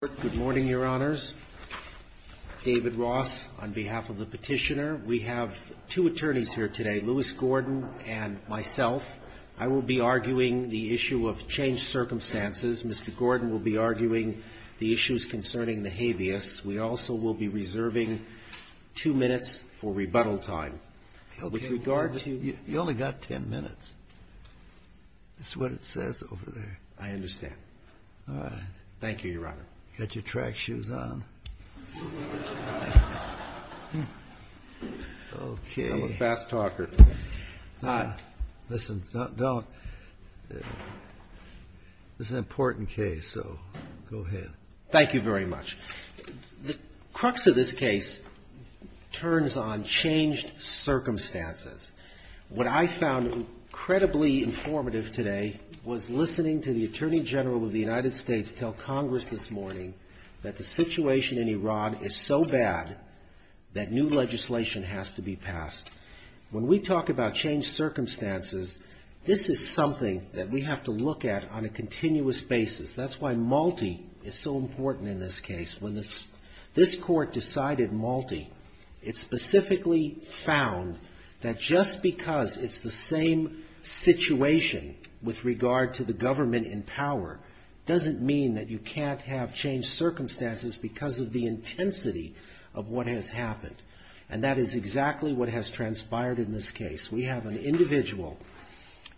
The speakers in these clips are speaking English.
Good morning, Your Honors. David Ross on behalf of the Petitioner. We have two attorneys here today, Lewis Gordon and myself. I will be arguing the issue of changed circumstances. Mr. Gordon will be arguing the issues concerning the habeas. We also will be reserving two minutes for rebuttal time. With regard to- You only got ten minutes. That's what it says over there. I understand. All right. Thank you, Your Honor. Got your track shoes on. Okay. I'm a fast talker. Listen, this is an important case, so go ahead. Thank you very much. The crux of this case turns on changed circumstances. What I found incredibly informative today was listening to the Attorney General of the United States tell Congress this morning that the situation in Iran is so bad that new legislation has to be passed. When we talk about changed circumstances, this is something that we have to look at on a continuous basis. That's why Malti is so important in this case. When this Court decided Malti, it specifically found that just because it's the same situation with regard to the government in power doesn't mean that you can't have changed circumstances because of the intensity of what has happened. And that is exactly what has transpired in this case. We have an individual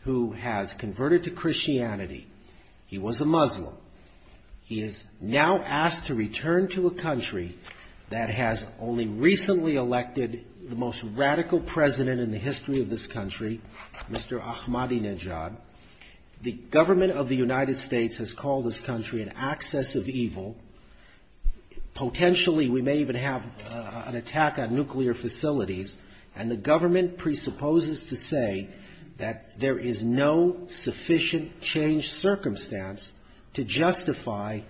who has converted to Christianity. He was a Muslim. He is now asked to return to a country that has only recently elected the most radical president in the history of this country, Mr. Ahmadinejad. The government of the United States has called this country an axis of evil. Potentially, we may even have an attack on nuclear facilities. And the government presupposes to say that there is no sufficient changed circumstance to justify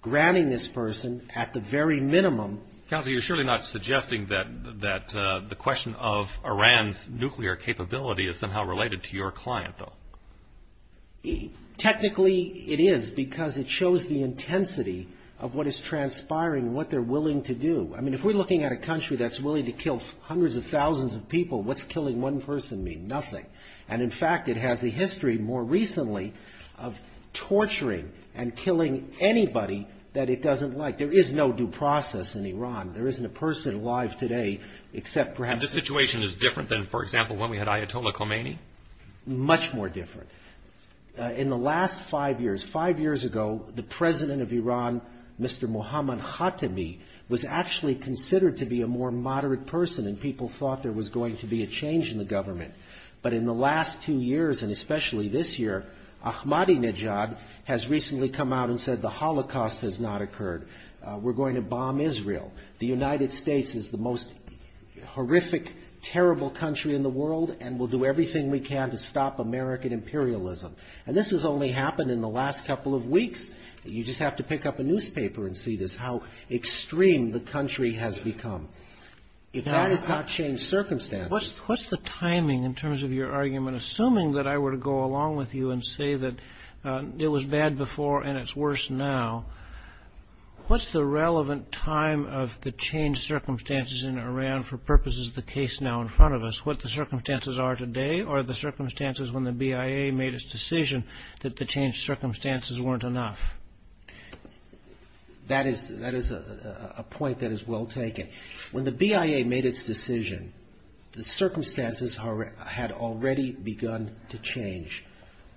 granting this person, at the very minimum — Counsel, you're surely not suggesting that the question of Iran's nuclear capability is somehow related to your client, though. Technically, it is because it shows the intensity of what is transpiring, what they're willing to do. I mean, if we're looking at a country that's willing to kill hundreds of thousands of people, what's killing one person mean? Nothing. And, in fact, it has a history more recently of torturing and killing anybody that it doesn't like. There is no due process in Iran. There isn't a person alive today except perhaps — And the situation is different than, for example, when we had Ayatollah Khomeini? Much more different. In the last five years, five years ago, the president of Iran, Mr. Mohammad Khatami, was actually considered to be a more moderate person, and people thought there was going to be a change in the government. But in the last two years, and especially this year, Ahmadinejad has recently come out and said the Holocaust has not occurred. We're going to bomb Israel. The United States is the most horrific, terrible country in the world, and we'll do everything we can to stop American imperialism. And this has only happened in the last couple of weeks. You just have to pick up a newspaper and see this, how extreme the country has become. If that has not changed circumstances — What's the timing in terms of your argument? Assuming that I were to go along with you and say that it was bad before and it's worse now, what's the relevant time of the changed circumstances in Iran for purposes of the case now in front of us? What the circumstances are today, or the circumstances when the BIA made its decision that the changed circumstances weren't enough? That is a point that is well taken. When the BIA made its decision, the circumstances had already begun to change.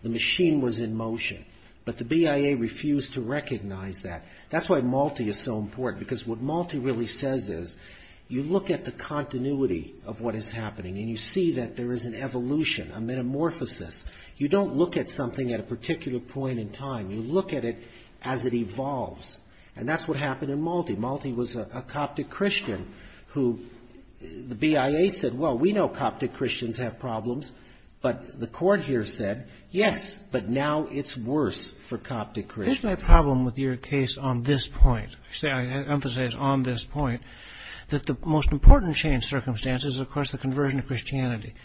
The machine was in motion. But the BIA refused to recognize that. That's why Malti is so important, because what Malti really says is, you look at the continuity of what is happening, and you see that there is an evolution, a metamorphosis. You don't look at something at a particular point in time. You look at it as it evolves. And that's what happened in Malti. Malti was a Coptic Christian. The BIA said, well, we know Coptic Christians have problems. But the court here said, yes, but now it's worse for Coptic Christians. Isn't that a problem with your case on this point? I emphasize on this point, that the most important changed circumstances is, of course, the conversion to Christianity.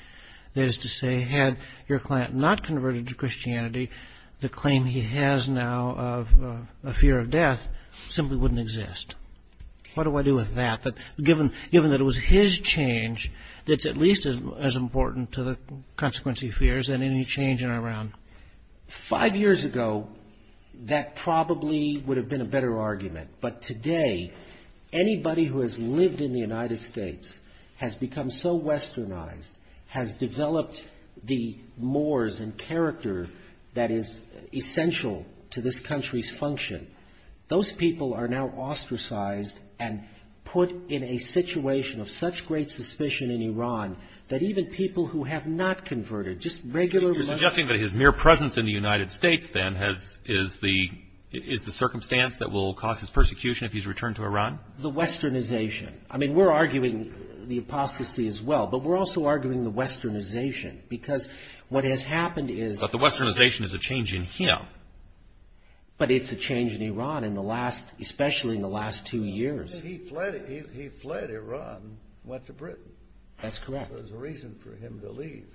That if he had not converted to Christianity, the claim he has now of a fear of death simply wouldn't exist. What do I do with that, given that it was his change that's at least as important to the consequence he fears than any change in Iran? Five years ago, that probably would have been a better argument. But today, anybody who has lived in the United States has become so westernized, has developed the mores and character that is essential to this country's function. Those people are now ostracized and put in a situation of such great suspicion in Iran that even people who have not converted, just regular... You're suggesting that his mere presence in the United States, then, is the circumstance The westernization. I mean, we're arguing the apostasy as well, but we're also arguing the westernization, because what has happened is... But the westernization is a change in him. But it's a change in Iran, especially in the last two years. He fled Iran and went to Britain. That's correct. There was a reason for him to leave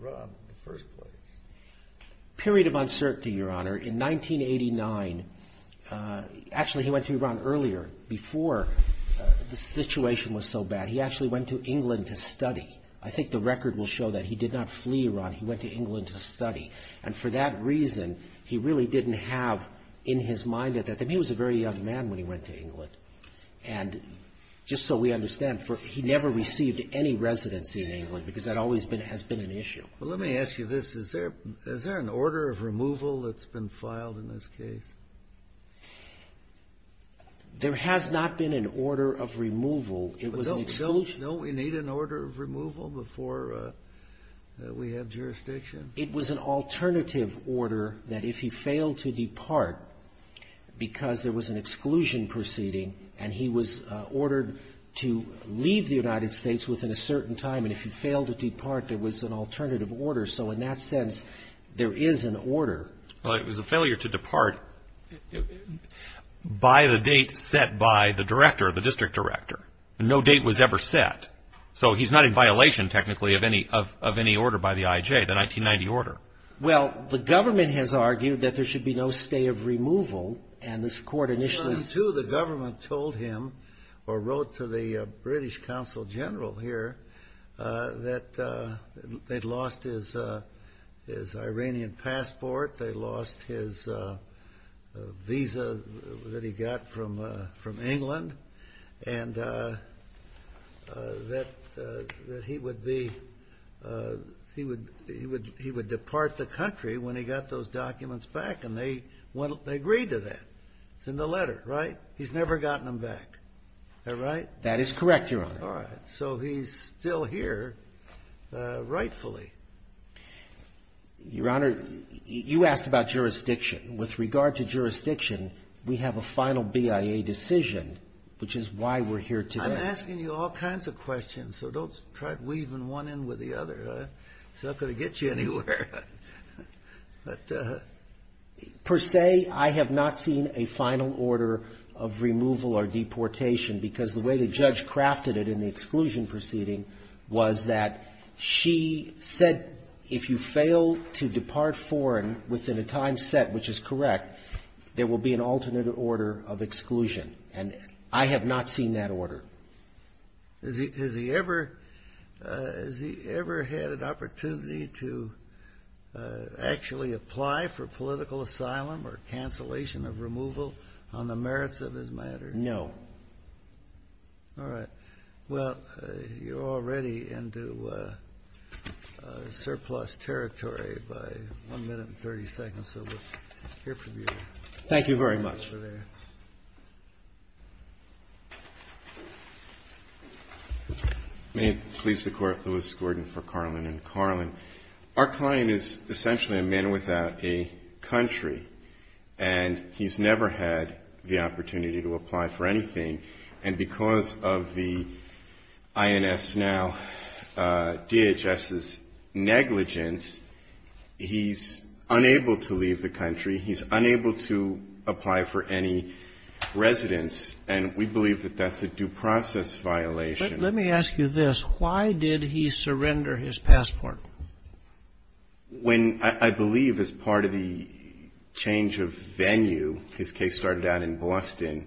Iran in the first place. Period of uncertainty, Your Honor. In 1989, actually, he went to Iran earlier, before the situation was so bad. He actually went to England to study. I think the record will show that. He did not flee Iran. He went to England to study. And for that reason, he really didn't have in his mind at that time. He was a very young man when he went to England. And just so we understand, he never received any residency in England, because that always has been an issue. Well, let me ask you this. Is there an order of removal that's been filed in this case? There has not been an order of removal. It was an exclusion... Don't we need an order of removal before we have jurisdiction? It was an alternative order that if he failed to depart, because there was an exclusion proceeding, and he was ordered to leave the United States within a certain time, and if he failed to depart, there was an alternative order. So in that sense, there is an order. Well, it was a failure to depart by the date set by the director, the district director. No date was ever set. So he's not in violation, technically, of any order by the I.J., the 1990 order. Well, the government has argued that there should be no stay of removal, and this court initially... or wrote to the British consul general here that they'd lost his Iranian passport, they lost his visa that he got from England, and that he would be...he would depart the country when he got those documents back, and they agreed to that. It's in the letter, right? He's never gotten them back. Is that right? That is correct, Your Honor. All right. So he's still here, rightfully. Your Honor, you asked about jurisdiction. With regard to jurisdiction, we have a final BIA decision, which is why we're here today. I'm asking you all kinds of questions, so don't try weaving one in with the other. It's not going to get you anywhere. But... Per se, I have not seen a final order of removal or deportation, because the way the judge crafted it in the exclusion proceeding was that she said, if you fail to depart foreign within a time set which is correct, there will be an alternate order of exclusion. And I have not seen that order. Has he ever had an opportunity to actually apply for political asylum or cancellation of removal on the merits of his matter? No. All right. Well, you're already into surplus territory by 1 minute and 30 seconds, so we'll hear from you. Thank you very much. May it please the Court, Louis Gordon for Carlin and Carlin. Our client is essentially a man without a country, and he's never had the opportunity to apply for anything. And because of the INS now, DHS's negligence, he's unable to leave the But let me ask you this. Why did he surrender his passport? When, I believe, as part of the change of venue, his case started out in Boston,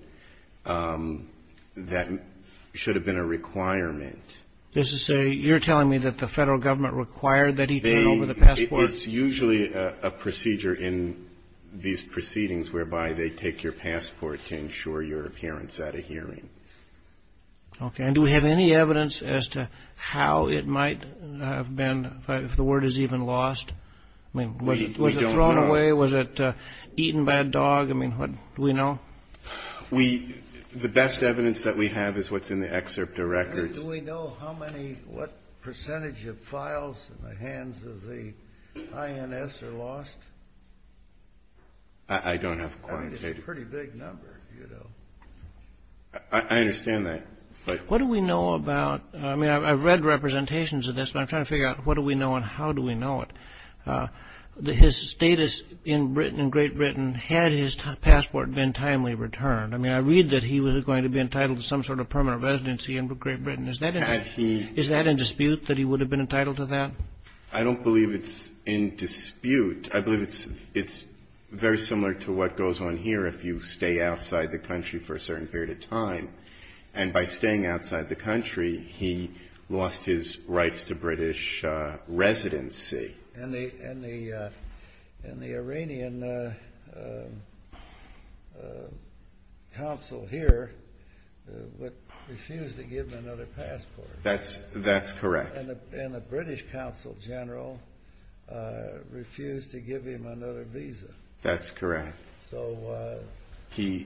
that should have been a requirement. This is a, you're telling me that the Federal Government required that he turn over the passport? It's usually a procedure in these proceedings whereby they take your passport to ensure your appearance at a hearing. Okay. And do we have any evidence as to how it might have been, if the word is even lost? I mean, was it thrown away? Was it eaten by a dog? I mean, do we know? We, the best evidence that we have is what's in the excerpt of records. Do we know how many, what percentage of files in the hands of the INS are lost? I don't have quantitative. It's a pretty big number, you know. I understand that. What do we know about, I mean, I've read representations of this, but I'm trying to figure out what do we know and how do we know it? His status in Britain, in Great Britain, had his passport been timely returned? I mean, I read that he was going to be entitled to some sort of permanent residency in Great Britain. Is that in dispute, that he would have been entitled to that? I don't believe it's in dispute. I believe it's very similar to what goes on here if you stay outside the country for a certain period of time. And by staying outside the country, he lost his rights to British residency. And the Iranian council here refused to give him another passport. That's correct. And the British council general refused to give him another visa. That's correct. So he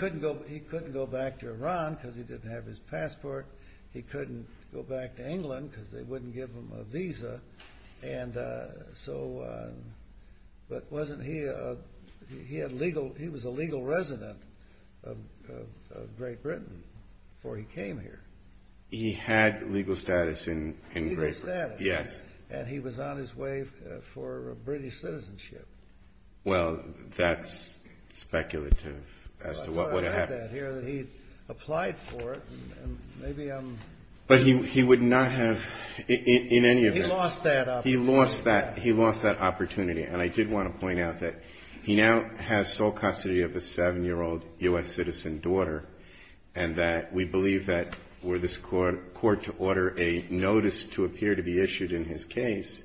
couldn't go back to Iran because he didn't have his passport. He couldn't go back to England because they wouldn't give him a visa. But he was a legal resident of Great Britain before he came here. He had legal status in Great Britain. Legal status. Yes. And he was on his way for British citizenship. Well, that's speculative as to what would have happened. I thought I had that here, that he applied for it and maybe I'm... But he would not have in any event... He lost that opportunity. He lost that opportunity. And I did want to point out that he now has sole custody of a seven-year-old U.S. citizen daughter, and that we believe that were this court to order a notice to appear to be issued in his case,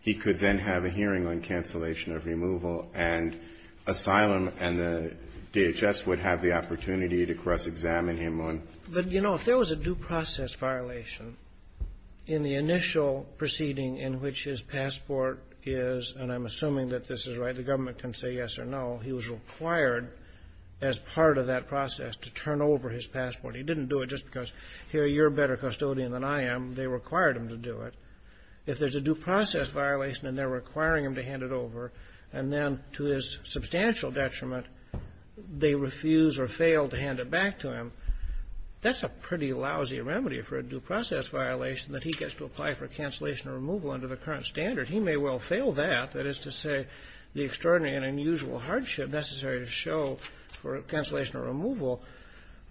he could then have a hearing on cancellation of removal and asylum, and the DHS would have the opportunity to cross-examine him on... But, you know, if there was a due process violation in the initial proceeding in which his passport is, and I'm assuming that this is right, the government can say yes or no, he was required as part of that process to turn over his passport. He didn't do it just because, here, you're a better custodian than I am. They required him to do it. If there's a due process violation and they're requiring him to hand it over, and then to his substantial detriment, they refuse or fail to hand it back to him, that's a pretty lousy remedy for a due process violation that he gets to apply for cancellation or removal under the current standard. He may well fail that. That is to say, the extraordinary and unusual hardship necessary to show for cancellation or removal,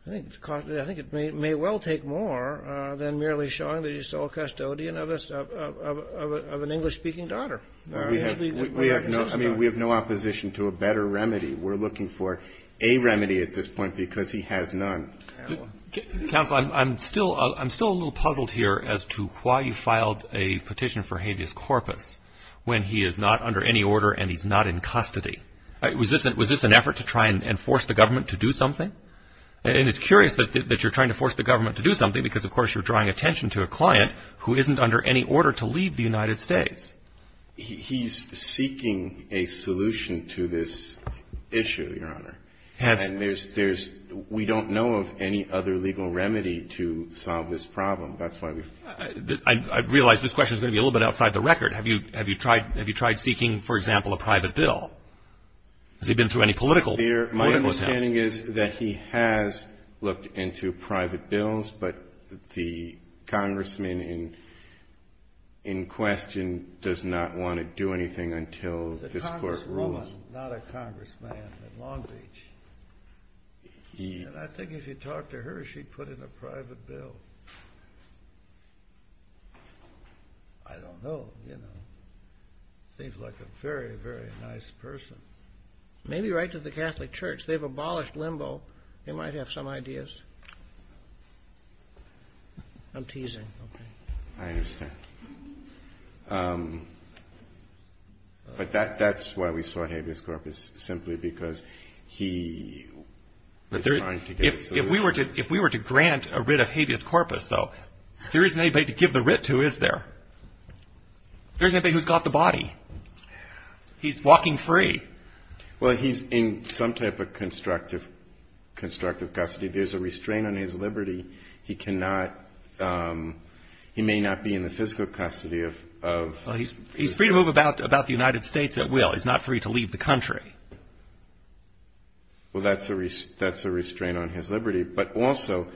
I think it may well take more than merely showing that he's a custodian of an English-speaking daughter. I mean, we have no opposition to a better remedy. We're looking for a remedy at this point because he has none. Counsel, I'm still a little puzzled here as to why you filed a petition for habeas corpus. When he is not under any order and he's not in custody. Was this an effort to try and force the government to do something? And it's curious that you're trying to force the government to do something because, of course, you're drawing attention to a client who isn't under any order to leave the United States. He's seeking a solution to this issue, Your Honor. And there's we don't know of any other legal remedy to solve this problem. That's why we've I realize this question is going to be a little bit outside the record. Have you tried seeking, for example, a private bill? Has he been through any political attempts? My understanding is that he has looked into private bills, but the congressman in question does not want to do anything until this Court rules. The congresswoman, not a congressman in Long Beach. And I think if you talked to her, she'd put in a private bill. I don't know, you know. Seems like a very, very nice person. Maybe write to the Catholic Church. They've abolished limbo. They might have some ideas. I'm teasing. Okay. I understand. But that's why we saw habeas corpus, simply because he was trying to get a solution. If we were to grant a writ of habeas corpus, though, there isn't anybody to give the writ to, is there? There isn't anybody who's got the body. He's walking free. Well, he's in some type of constructive custody. There's a restraint on his liberty. He may not be in the physical custody of He's free to move about the United States at will. He's not free to leave the country. Well, that's a restraint on his liberty. But also,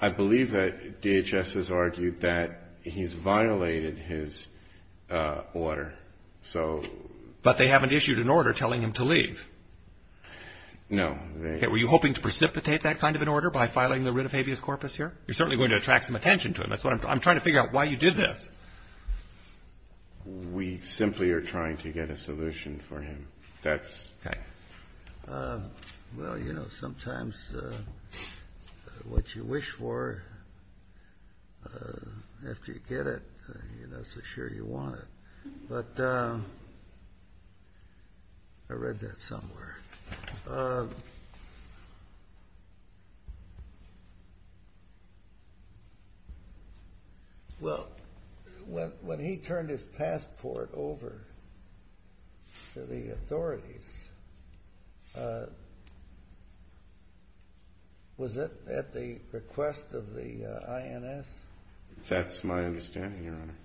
I believe that DHS has argued that he's violated his order. But they haven't issued an order telling him to leave. No. Were you hoping to precipitate that kind of an order by filing the writ of habeas corpus here? You're certainly going to attract some attention to him. I'm trying to figure out why you did this. We simply are trying to get a solution for him. Well, you know, sometimes what you wish for, after you get it, you're not so sure you want it. But I read that somewhere. Well, when he turned his passport over to the authorities, was it at the request of the INS? That's my understanding, Your Honor.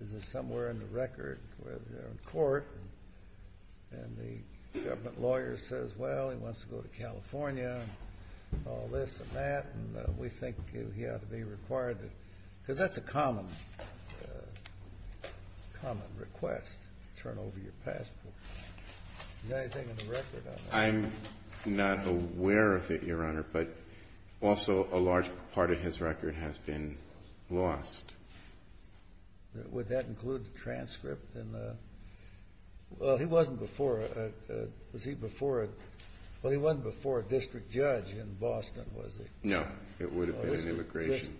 Is it somewhere in the record where they're in court and the government lawyer says, Well, he wants to go to California and all this and that. And we think he ought to be required to. Because that's a common request, to turn over your passport. Is there anything in the record on that? I'm not aware of it, Your Honor, but also a large part of his record has been lost. Would that include the transcript? Well, he wasn't before a district judge in Boston, was he? No, it would have been immigration.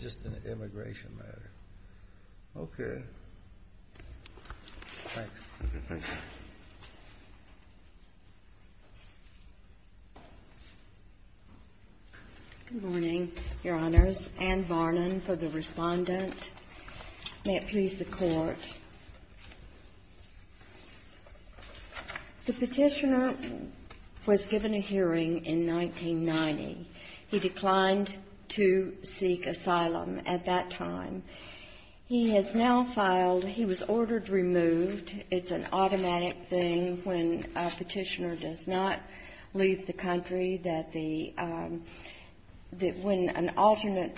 Just an immigration matter. Okay. Thanks. Thank you. Good morning, Your Honors. Ann Varnon for the Respondent. May it please the Court. The Petitioner was given a hearing in 1990. He declined to seek asylum at that time. He has now filed, he was ordered removed. It's an automatic thing when a Petitioner does not leave the country that the, that when an alternate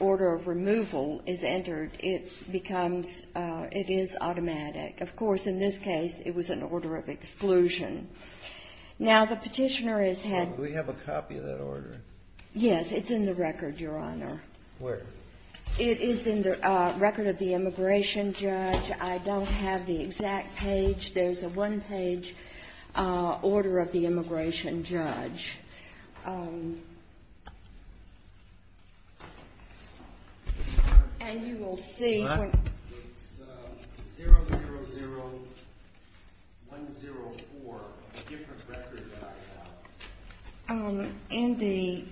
order of removal is entered, it becomes, it is automatic. Of course, in this case, it was an order of exclusion. Now, the Petitioner has had. We have a copy of that order. Yes, it's in the record, Your Honor. Where? It is in the record of the immigration judge. I don't have the exact page. There's a one-page order of the immigration judge. And you will see. What? It's 000104, a different record that I have. Well, in the,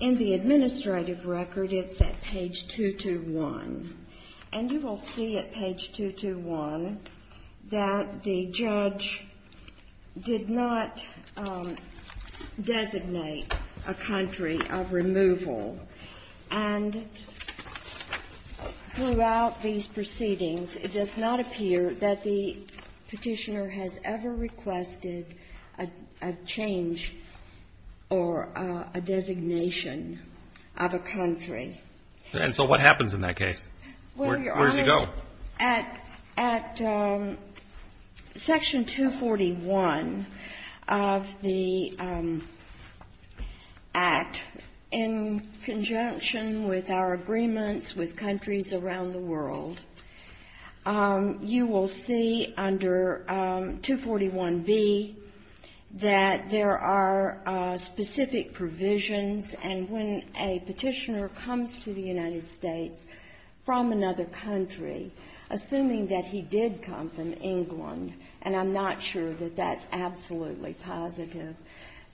in the administrative record, it's at page 221. And you will see at page 221 that the judge did not designate a country of removal. And throughout these proceedings, it does not appear that the Petitioner has ever requested a change or a designation of a country. And so what happens in that case? Where does he go? Well, at section 241 of the Act, in conjunction with our agreements with countries around the world, you will see under 241B that there are specific provisions and when a Petitioner comes to the United States from another country, assuming that he did come from England, and I'm not sure that that's absolutely positive,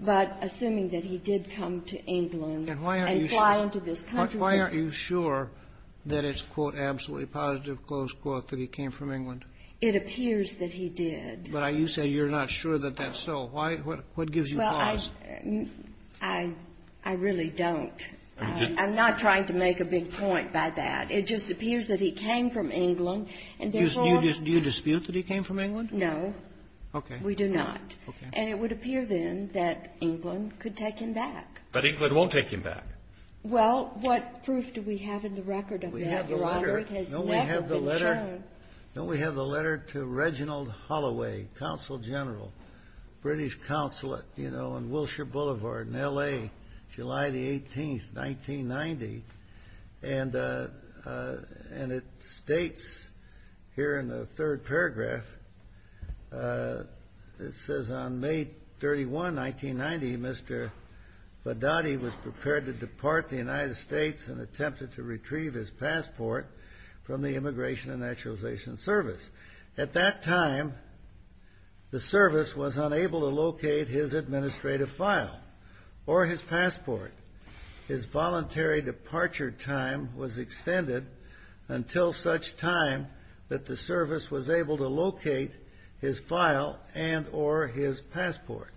but assuming that he did come to England and fly into this country. And why aren't you sure that it's, quote, absolutely positive, close quote, that he came from England? It appears that he did. But you say you're not sure that that's so. Why? What gives you pause? I really don't. I'm not trying to make a big point by that. It just appears that he came from England, and therefore — Do you dispute that he came from England? No. Okay. We do not. Okay. And it would appear, then, that England could take him back. But England won't take him back. Well, what proof do we have in the record of that, Your Honor? We have the letter. It has never been shown. No, we have the letter. Reginald Holloway, Consul General, British Consulate, you know, on Wilshire Boulevard in L.A., July the 18th, 1990. And it states here in the third paragraph, it says, on May 31, 1990, Mr. Vaddotti was prepared to depart the United States and attempted to retrieve his passport from the Immigration and Naturalization Service. At that time, the service was unable to locate his administrative file or his passport. His voluntary departure time was extended until such time that the service was able to locate his file and or his passport.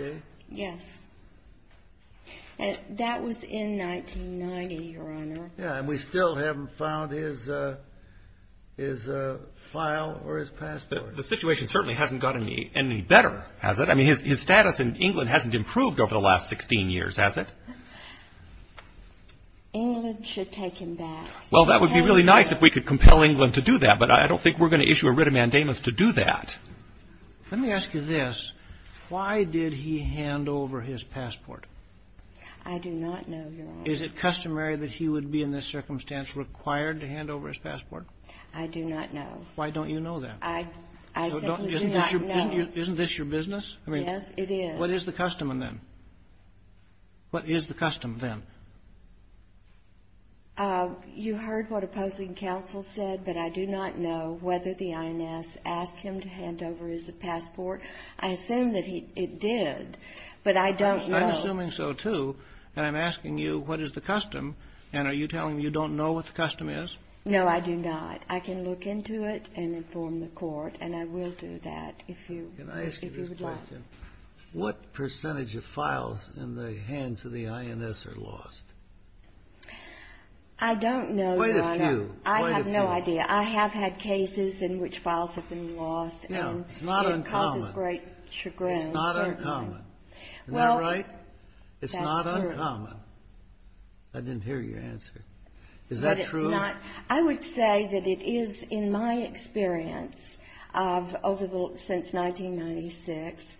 Okay. Yes. That was in 1990, Your Honor. Yeah, and we still haven't found his file or his passport. The situation certainly hasn't gotten any better, has it? I mean, his status in England hasn't improved over the last 16 years, has it? England should take him back. Well, that would be really nice if we could compel England to do that, but I don't think we're going to issue a writ of mandamus to do that. Let me ask you this. Why did he hand over his passport? I do not know, Your Honor. Is it customary that he would be in this circumstance required to hand over his passport? I do not know. Why don't you know that? I simply do not know. Isn't this your business? Yes, it is. What is the custom then? What is the custom then? You heard what opposing counsel said, but I do not know whether the INS asked him to hand over his passport. I assume that it did, but I don't know. I'm assuming so, too, and I'm asking you what is the custom, and are you telling me you don't know what the custom is? No, I do not. I can look into it and inform the court, and I will do that if you would like. What percentage of files in the hands of the INS are lost? I don't know, Your Honor. Quite a few. Quite a few. I have no idea. I have had cases in which files have been lost. No, it's not uncommon. It causes great chagrin. It's not uncommon. Isn't that right? Well, that's true. It's not uncommon. I didn't hear your answer. Is that true? No, it's not. I would say that it is, in my experience, since 1996,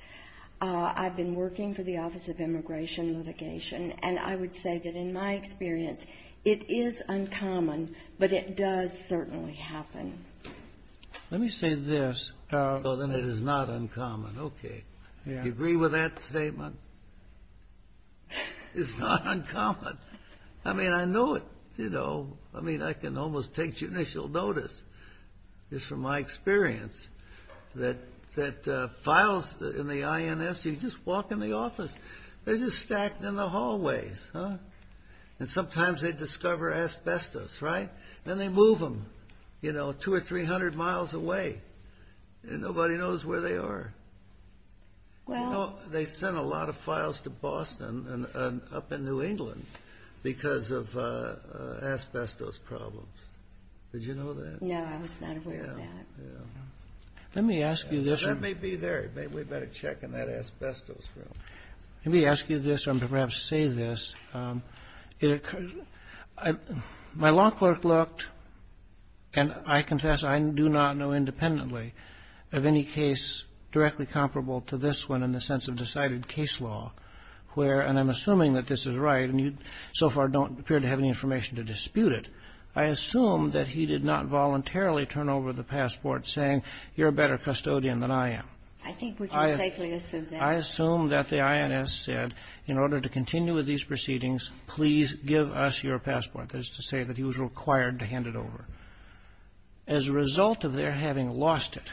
I've been working for the Office of Immigration Litigation, and I would say that in my experience, it is uncommon, but it does certainly happen. Let me say this, so then it is not uncommon. Okay. Do you agree with that statement? It's not uncommon. I mean, I know it. I mean, I can almost take judicial notice, just from my experience, that files in the INS, you just walk in the office, they're just stacked in the hallways, and sometimes they discover asbestos, right? Then they move them, you know, two or three hundred miles away, and nobody knows where they are. They sent a lot of files to Boston and up in New England because of asbestos problems. Did you know that? No, I was not aware of that. Let me ask you this. That may be there. Maybe we'd better check in that asbestos room. Let me ask you this, and perhaps say this. My law clerk looked, and I confess I do not know independently of any case directly comparable to this one in the sense of decided case law, where, and I'm assuming that this is right, and you so far don't appear to have any information to dispute it. I assume that he did not voluntarily turn over the passport saying you're a better custodian than I am. I think we can safely assume that. I assume that the INS said in order to continue with these proceedings, please give us your passport. That is to say that he was required to hand it over. As a result of their having lost it,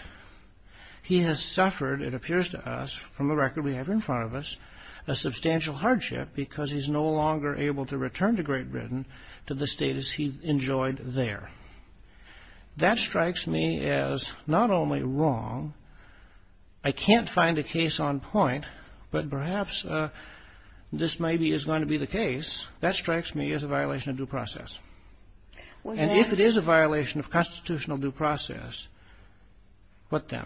he has suffered, it appears to us from the record we have in front of us, a substantial hardship because he's no longer able to return to Great Britain to the status he enjoyed there. That strikes me as not only wrong. I can't find a case on point, but perhaps this maybe is going to be the case. That strikes me as a violation of due process. And if it is a violation of constitutional due process, what then?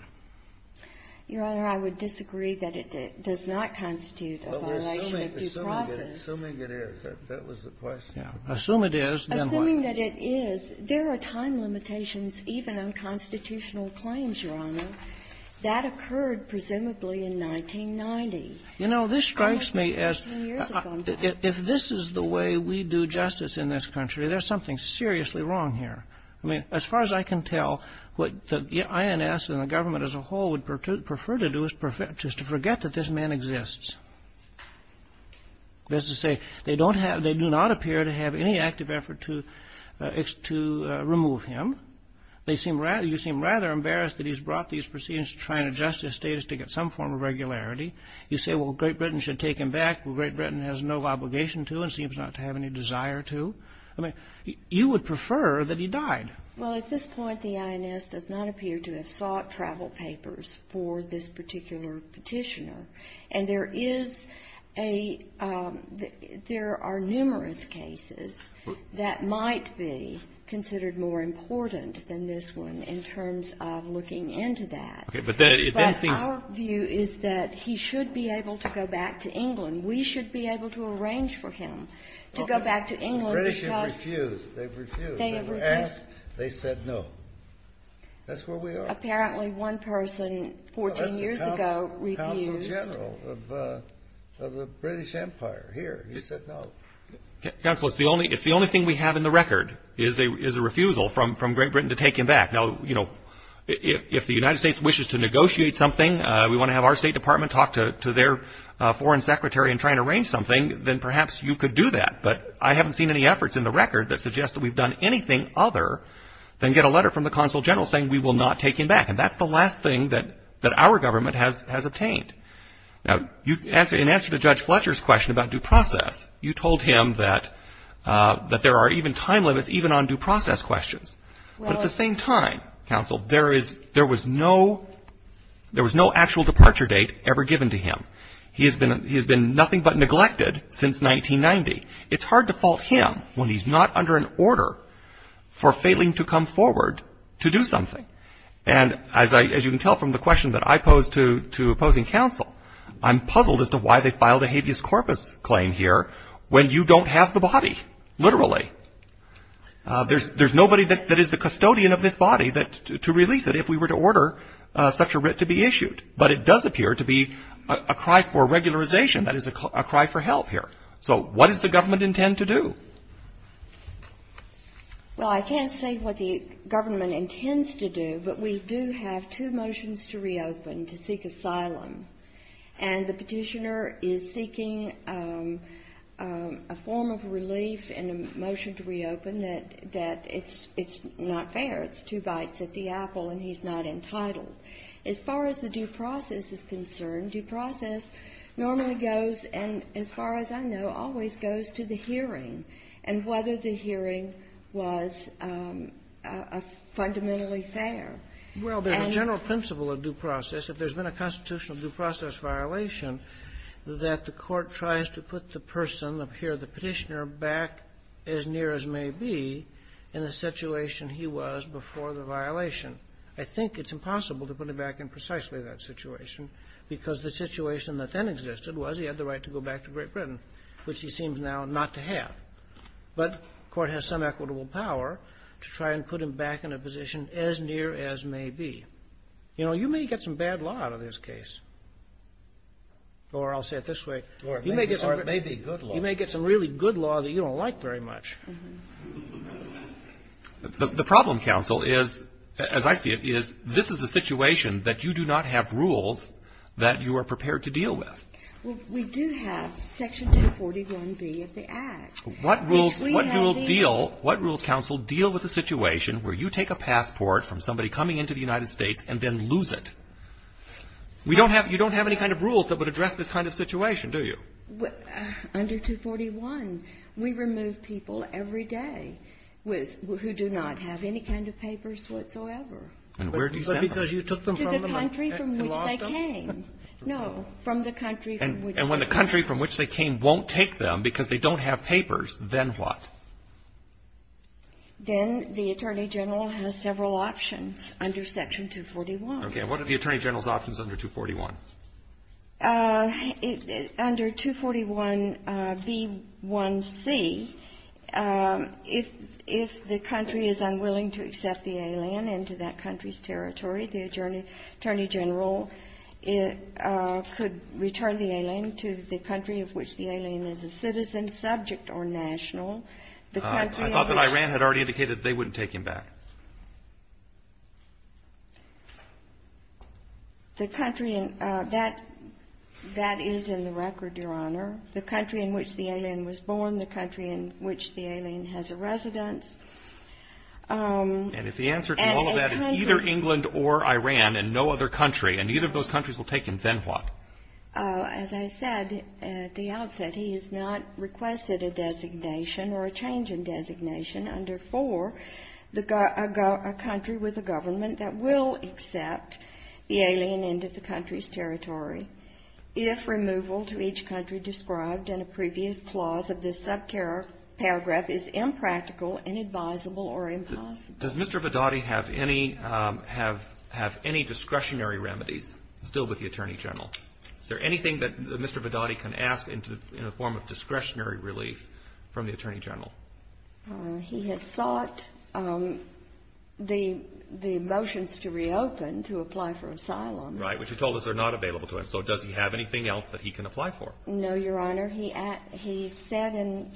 Your Honor, I would disagree that it does not constitute a violation of due process. Assuming it is. That was the question. Assume it is, then what? Assuming that it is. There are time limitations even on constitutional claims, Your Honor. That occurred presumably in 1990. You know, this strikes me as if this is the way we do justice in this country, there's something seriously wrong here. I mean, as far as I can tell, what the INS and the government as a whole would prefer to do is to forget that this man exists. That is to say, they do not appear to have any active effort to remove him. You seem rather embarrassed that he's brought these proceedings to try and adjust his status to get some form of regularity. You say, well, Great Britain should take him back. Well, Great Britain has no obligation to and seems not to have any desire to. I mean, you would prefer that he died. Well, at this point, the INS does not appear to have sought travel papers for this particular petitioner. And there is a — there are numerous cases that might be considered more important than this one in terms of looking into that. Okay. But then it seems — But our view is that he should be able to go back to England. We should be able to arrange for him to go back to England because — Well, the British have refused. They've refused. They have refused. They were asked. They said no. That's where we are. But apparently one person 14 years ago refused. That's the consul general of the British Empire here. He said no. Counsel, it's the only thing we have in the record is a refusal from Great Britain to take him back. Now, you know, if the United States wishes to negotiate something, we want to have our State Department talk to their foreign secretary in trying to arrange something, then perhaps you could do that. But I haven't seen any efforts in the record that suggest that we've done anything other than get a letter from the consul general saying we will not take him back, and that's the last thing that our government has obtained. Now, in answer to Judge Fletcher's question about due process, you told him that there are even time limits even on due process questions. But at the same time, counsel, there was no actual departure date ever given to him. He has been nothing but neglected since 1990. It's hard to fault him when he's not under an order for failing to come forward to do something. And as you can tell from the question that I posed to opposing counsel, I'm puzzled as to why they filed a habeas corpus claim here when you don't have the body, literally. There's nobody that is the custodian of this body to release it if we were to order such a writ to be issued. But it does appear to be a cry for regularization. That is a cry for help here. So what does the government intend to do? Well, I can't say what the government intends to do, but we do have two motions to reopen to seek asylum. And the petitioner is seeking a form of relief and a motion to reopen that it's not fair. It's two bites at the apple, and he's not entitled. As far as the due process is concerned, due process normally goes, and as far as I know, always goes to the hearing and whether the hearing was fundamentally fair. Well, there's a general principle of due process. If there's been a constitutional due process violation that the court tries to put the person here, the petitioner, back as near as may be in the situation he was before the violation, I think it's impossible to put him back in precisely that situation because the situation that then existed was he had the right to go back to Great Britain, which he seems now not to have. But the court has some equitable power to try and put him back in a position as near as may be. You know, you may get some bad law out of this case, or I'll say it this way. Or it may be good law. You may get some really good law that you don't like very much. The problem, counsel, as I see it, is this is a situation that you do not have rules that you are prepared to deal with. Well, we do have Section 241B of the Act. What rules counsel deal with a situation where you take a passport from somebody coming into the United States and then lose it? You don't have any kind of rules that would address this kind of situation, do you? Under 241, we remove people every day who do not have any kind of papers whatsoever. And where do you send them? To the country from which they came. No, from the country from which they came. And when the country from which they came won't take them because they don't have papers, then what? Then the Attorney General has several options under Section 241. And what are the Attorney General's options under 241? Under 241B1C, if the country is unwilling to accept the alien into that country's territory, the Attorney General could return the alien to the country of which the alien is a citizen, subject or national. I thought that Iran had already indicated they wouldn't take him back. That is in the record, Your Honor. The country in which the alien was born, the country in which the alien has a residence. And if the answer to all of that is either England or Iran and no other country, and either of those countries will take him, then what? As I said at the outset, he is not requested a designation or a change in designation. Under 4, a country with a government that will accept the alien into the country's territory. If removal to each country described in a previous clause of this subparagraph is impractical, inadvisable, or impossible. Does Mr. Vidauti have any discretionary remedies still with the Attorney General? Is there anything that Mr. Vidauti can ask in the form of discretionary relief from the Attorney General? He has sought the motions to reopen to apply for asylum. Right, which are told us are not available to him. So does he have anything else that he can apply for? No, Your Honor. He said in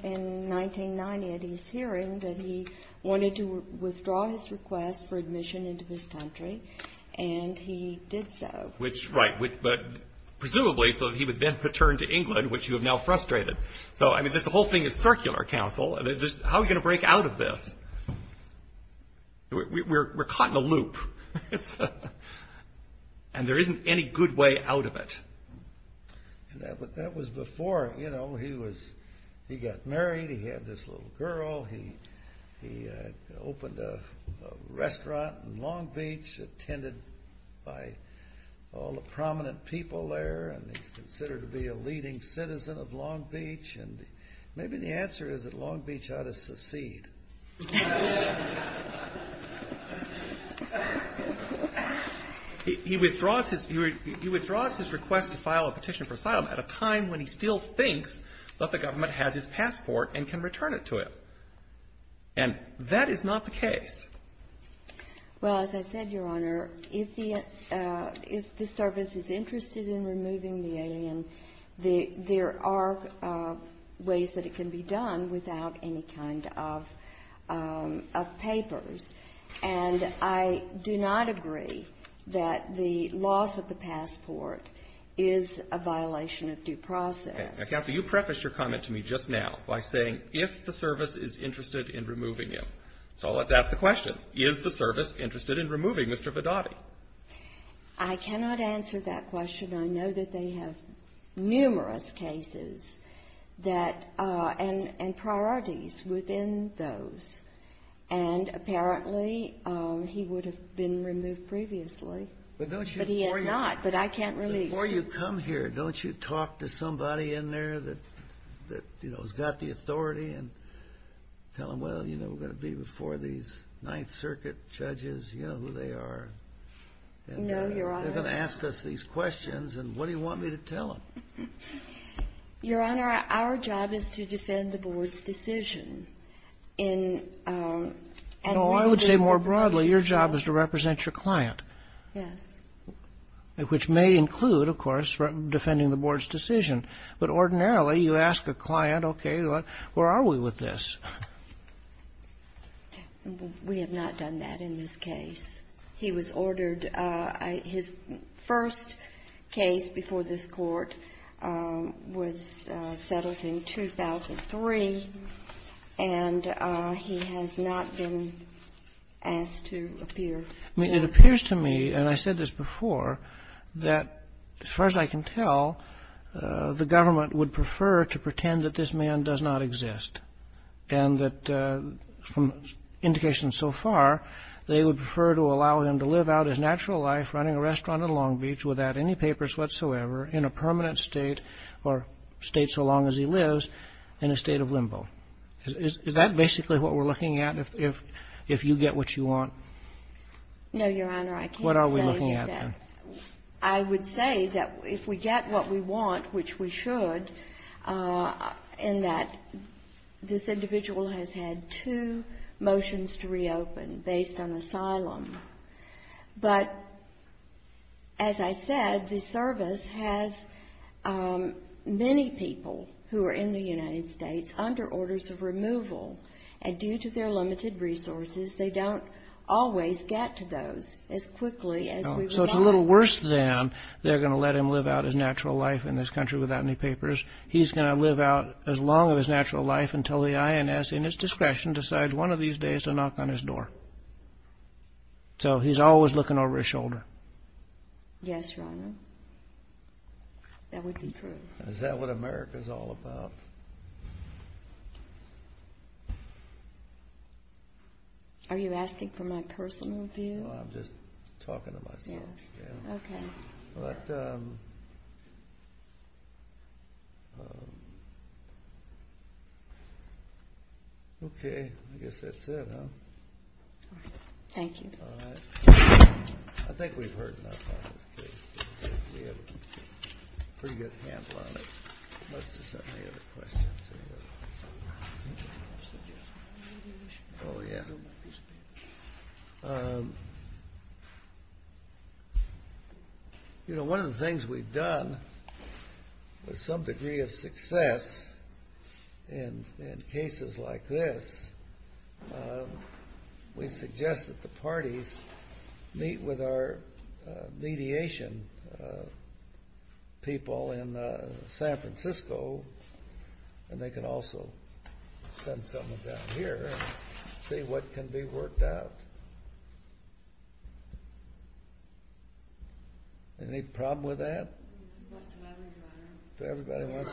1990 at his hearing that he wanted to withdraw his request for admission into this country, and he did so. Which, right. But presumably so that he would then return to England, which you have now frustrated. So, I mean, this whole thing is circular, counsel. How are we going to break out of this? We're caught in a loop. And there isn't any good way out of it. That was before, you know, he got married. He had this little girl. He opened a restaurant in Long Beach, attended by all the prominent people there. And he's considered to be a leading citizen of Long Beach. And maybe the answer is that Long Beach ought to secede. He withdraws his request to file a petition for asylum at a time when he still thinks that the government has his passport and can return it to him. And that is not the case. Well, as I said, Your Honor, if the service is interested in removing the alien, there are ways that it can be done without any kind of papers. And I do not agree that the loss of the passport is a violation of due process. Now, Counsel, you prefaced your comment to me just now by saying if the service is interested in removing him. So let's ask the question, is the service interested in removing Mr. Vidotti? I cannot answer that question. I know that they have numerous cases and priorities within those. And apparently he would have been removed previously. But he had not. But I can't release him. Before you come here, don't you talk to somebody in there that, you know, going to be before these Ninth Circuit judges? You know who they are. No, Your Honor. They're going to ask us these questions, and what do you want me to tell them? Your Honor, our job is to defend the Board's decision. I would say more broadly, your job is to represent your client. Yes. Which may include, of course, defending the Board's decision. But ordinarily, you ask a client, okay, where are we with this? We have not done that in this case. He was ordered his first case before this Court was settled in 2003, and he has not been asked to appear. It appears to me, and I said this before, that as far as I can tell, the government would prefer to pretend that this man does not exist, and that from indications so far, they would prefer to allow him to live out his natural life running a restaurant in Long Beach without any papers whatsoever in a permanent state, or a state so long as he lives, in a state of limbo. Is that basically what we're looking at, if you get what you want? No, your Honor. I can't say that. What are we looking at, then? I would say that if we get what we want, which we should, in that this individual has had two motions to reopen based on asylum. But as I said, the service has many people who are in the United States under orders of removal, and due to their limited resources, they don't always get to those as quickly as we would like. So it's a little worse than they're going to let him live out his natural life in this country without any papers. He's going to live out as long of his natural life until the INS, in its discretion, decides one of these days to knock on his door. So he's always looking over his shoulder. Yes, Your Honor. That would be true. Is that what America's all about? Are you asking for my personal view? No, I'm just talking to myself. Okay. But... Okay, I guess that's it, huh? Thank you. All right. I think we've heard enough on this case. We have a pretty good handle on it. Unless there's any other questions. Let's see. Oh, yeah. You know, one of the things we've done with some degree of success in cases like this, we suggest that the parties meet with our mediation people in San Francisco, and they can also send someone down here and see what can be worked out. Any problem with that? Not to everybody, Your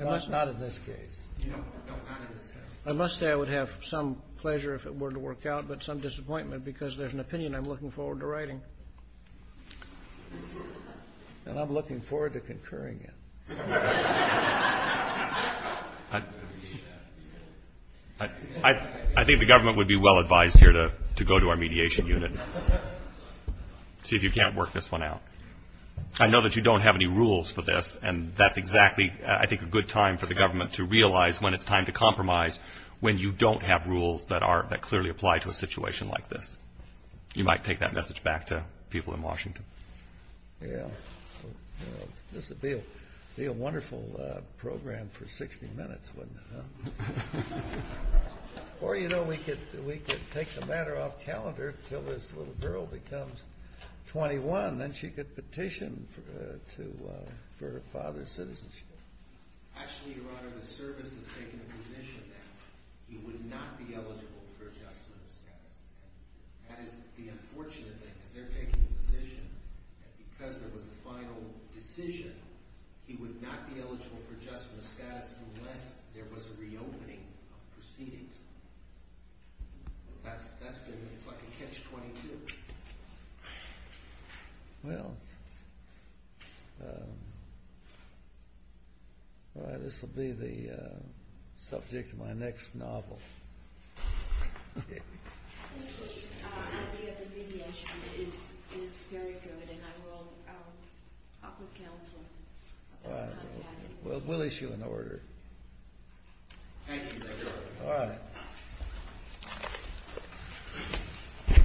Honor. Not in this case. I must say I would have some pleasure if it were to work out, but some disappointment because there's an opinion I'm looking forward to writing. And I'm looking forward to concurring it. I think the government would be well advised here to go to our mediation unit, see if you can't work this one out. I know that you don't have any rules for this, and that's exactly I think a good time for the government to realize when it's time to compromise when you don't have rules that clearly apply to a situation like this. You might take that message back to people in Washington. Yeah. This would be a wonderful program for 60 minutes, wouldn't it? Or, you know, we could take the matter off calendar until this little girl becomes 21, then she could petition for her father's citizenship. Actually, Your Honor, the service has taken a position that he would not be eligible for adjustment of status. That is the unfortunate thing because they're taking the position that because there was a final decision, he would not be eligible for adjustment of status unless there was a reopening of proceedings. That's good. It's like a catch-22. Well, this will be the subject of my next novel. I think the idea of the mediation is very good, and I will talk with counsel. All right. We'll issue an order. Thank you, Your Honor. All right.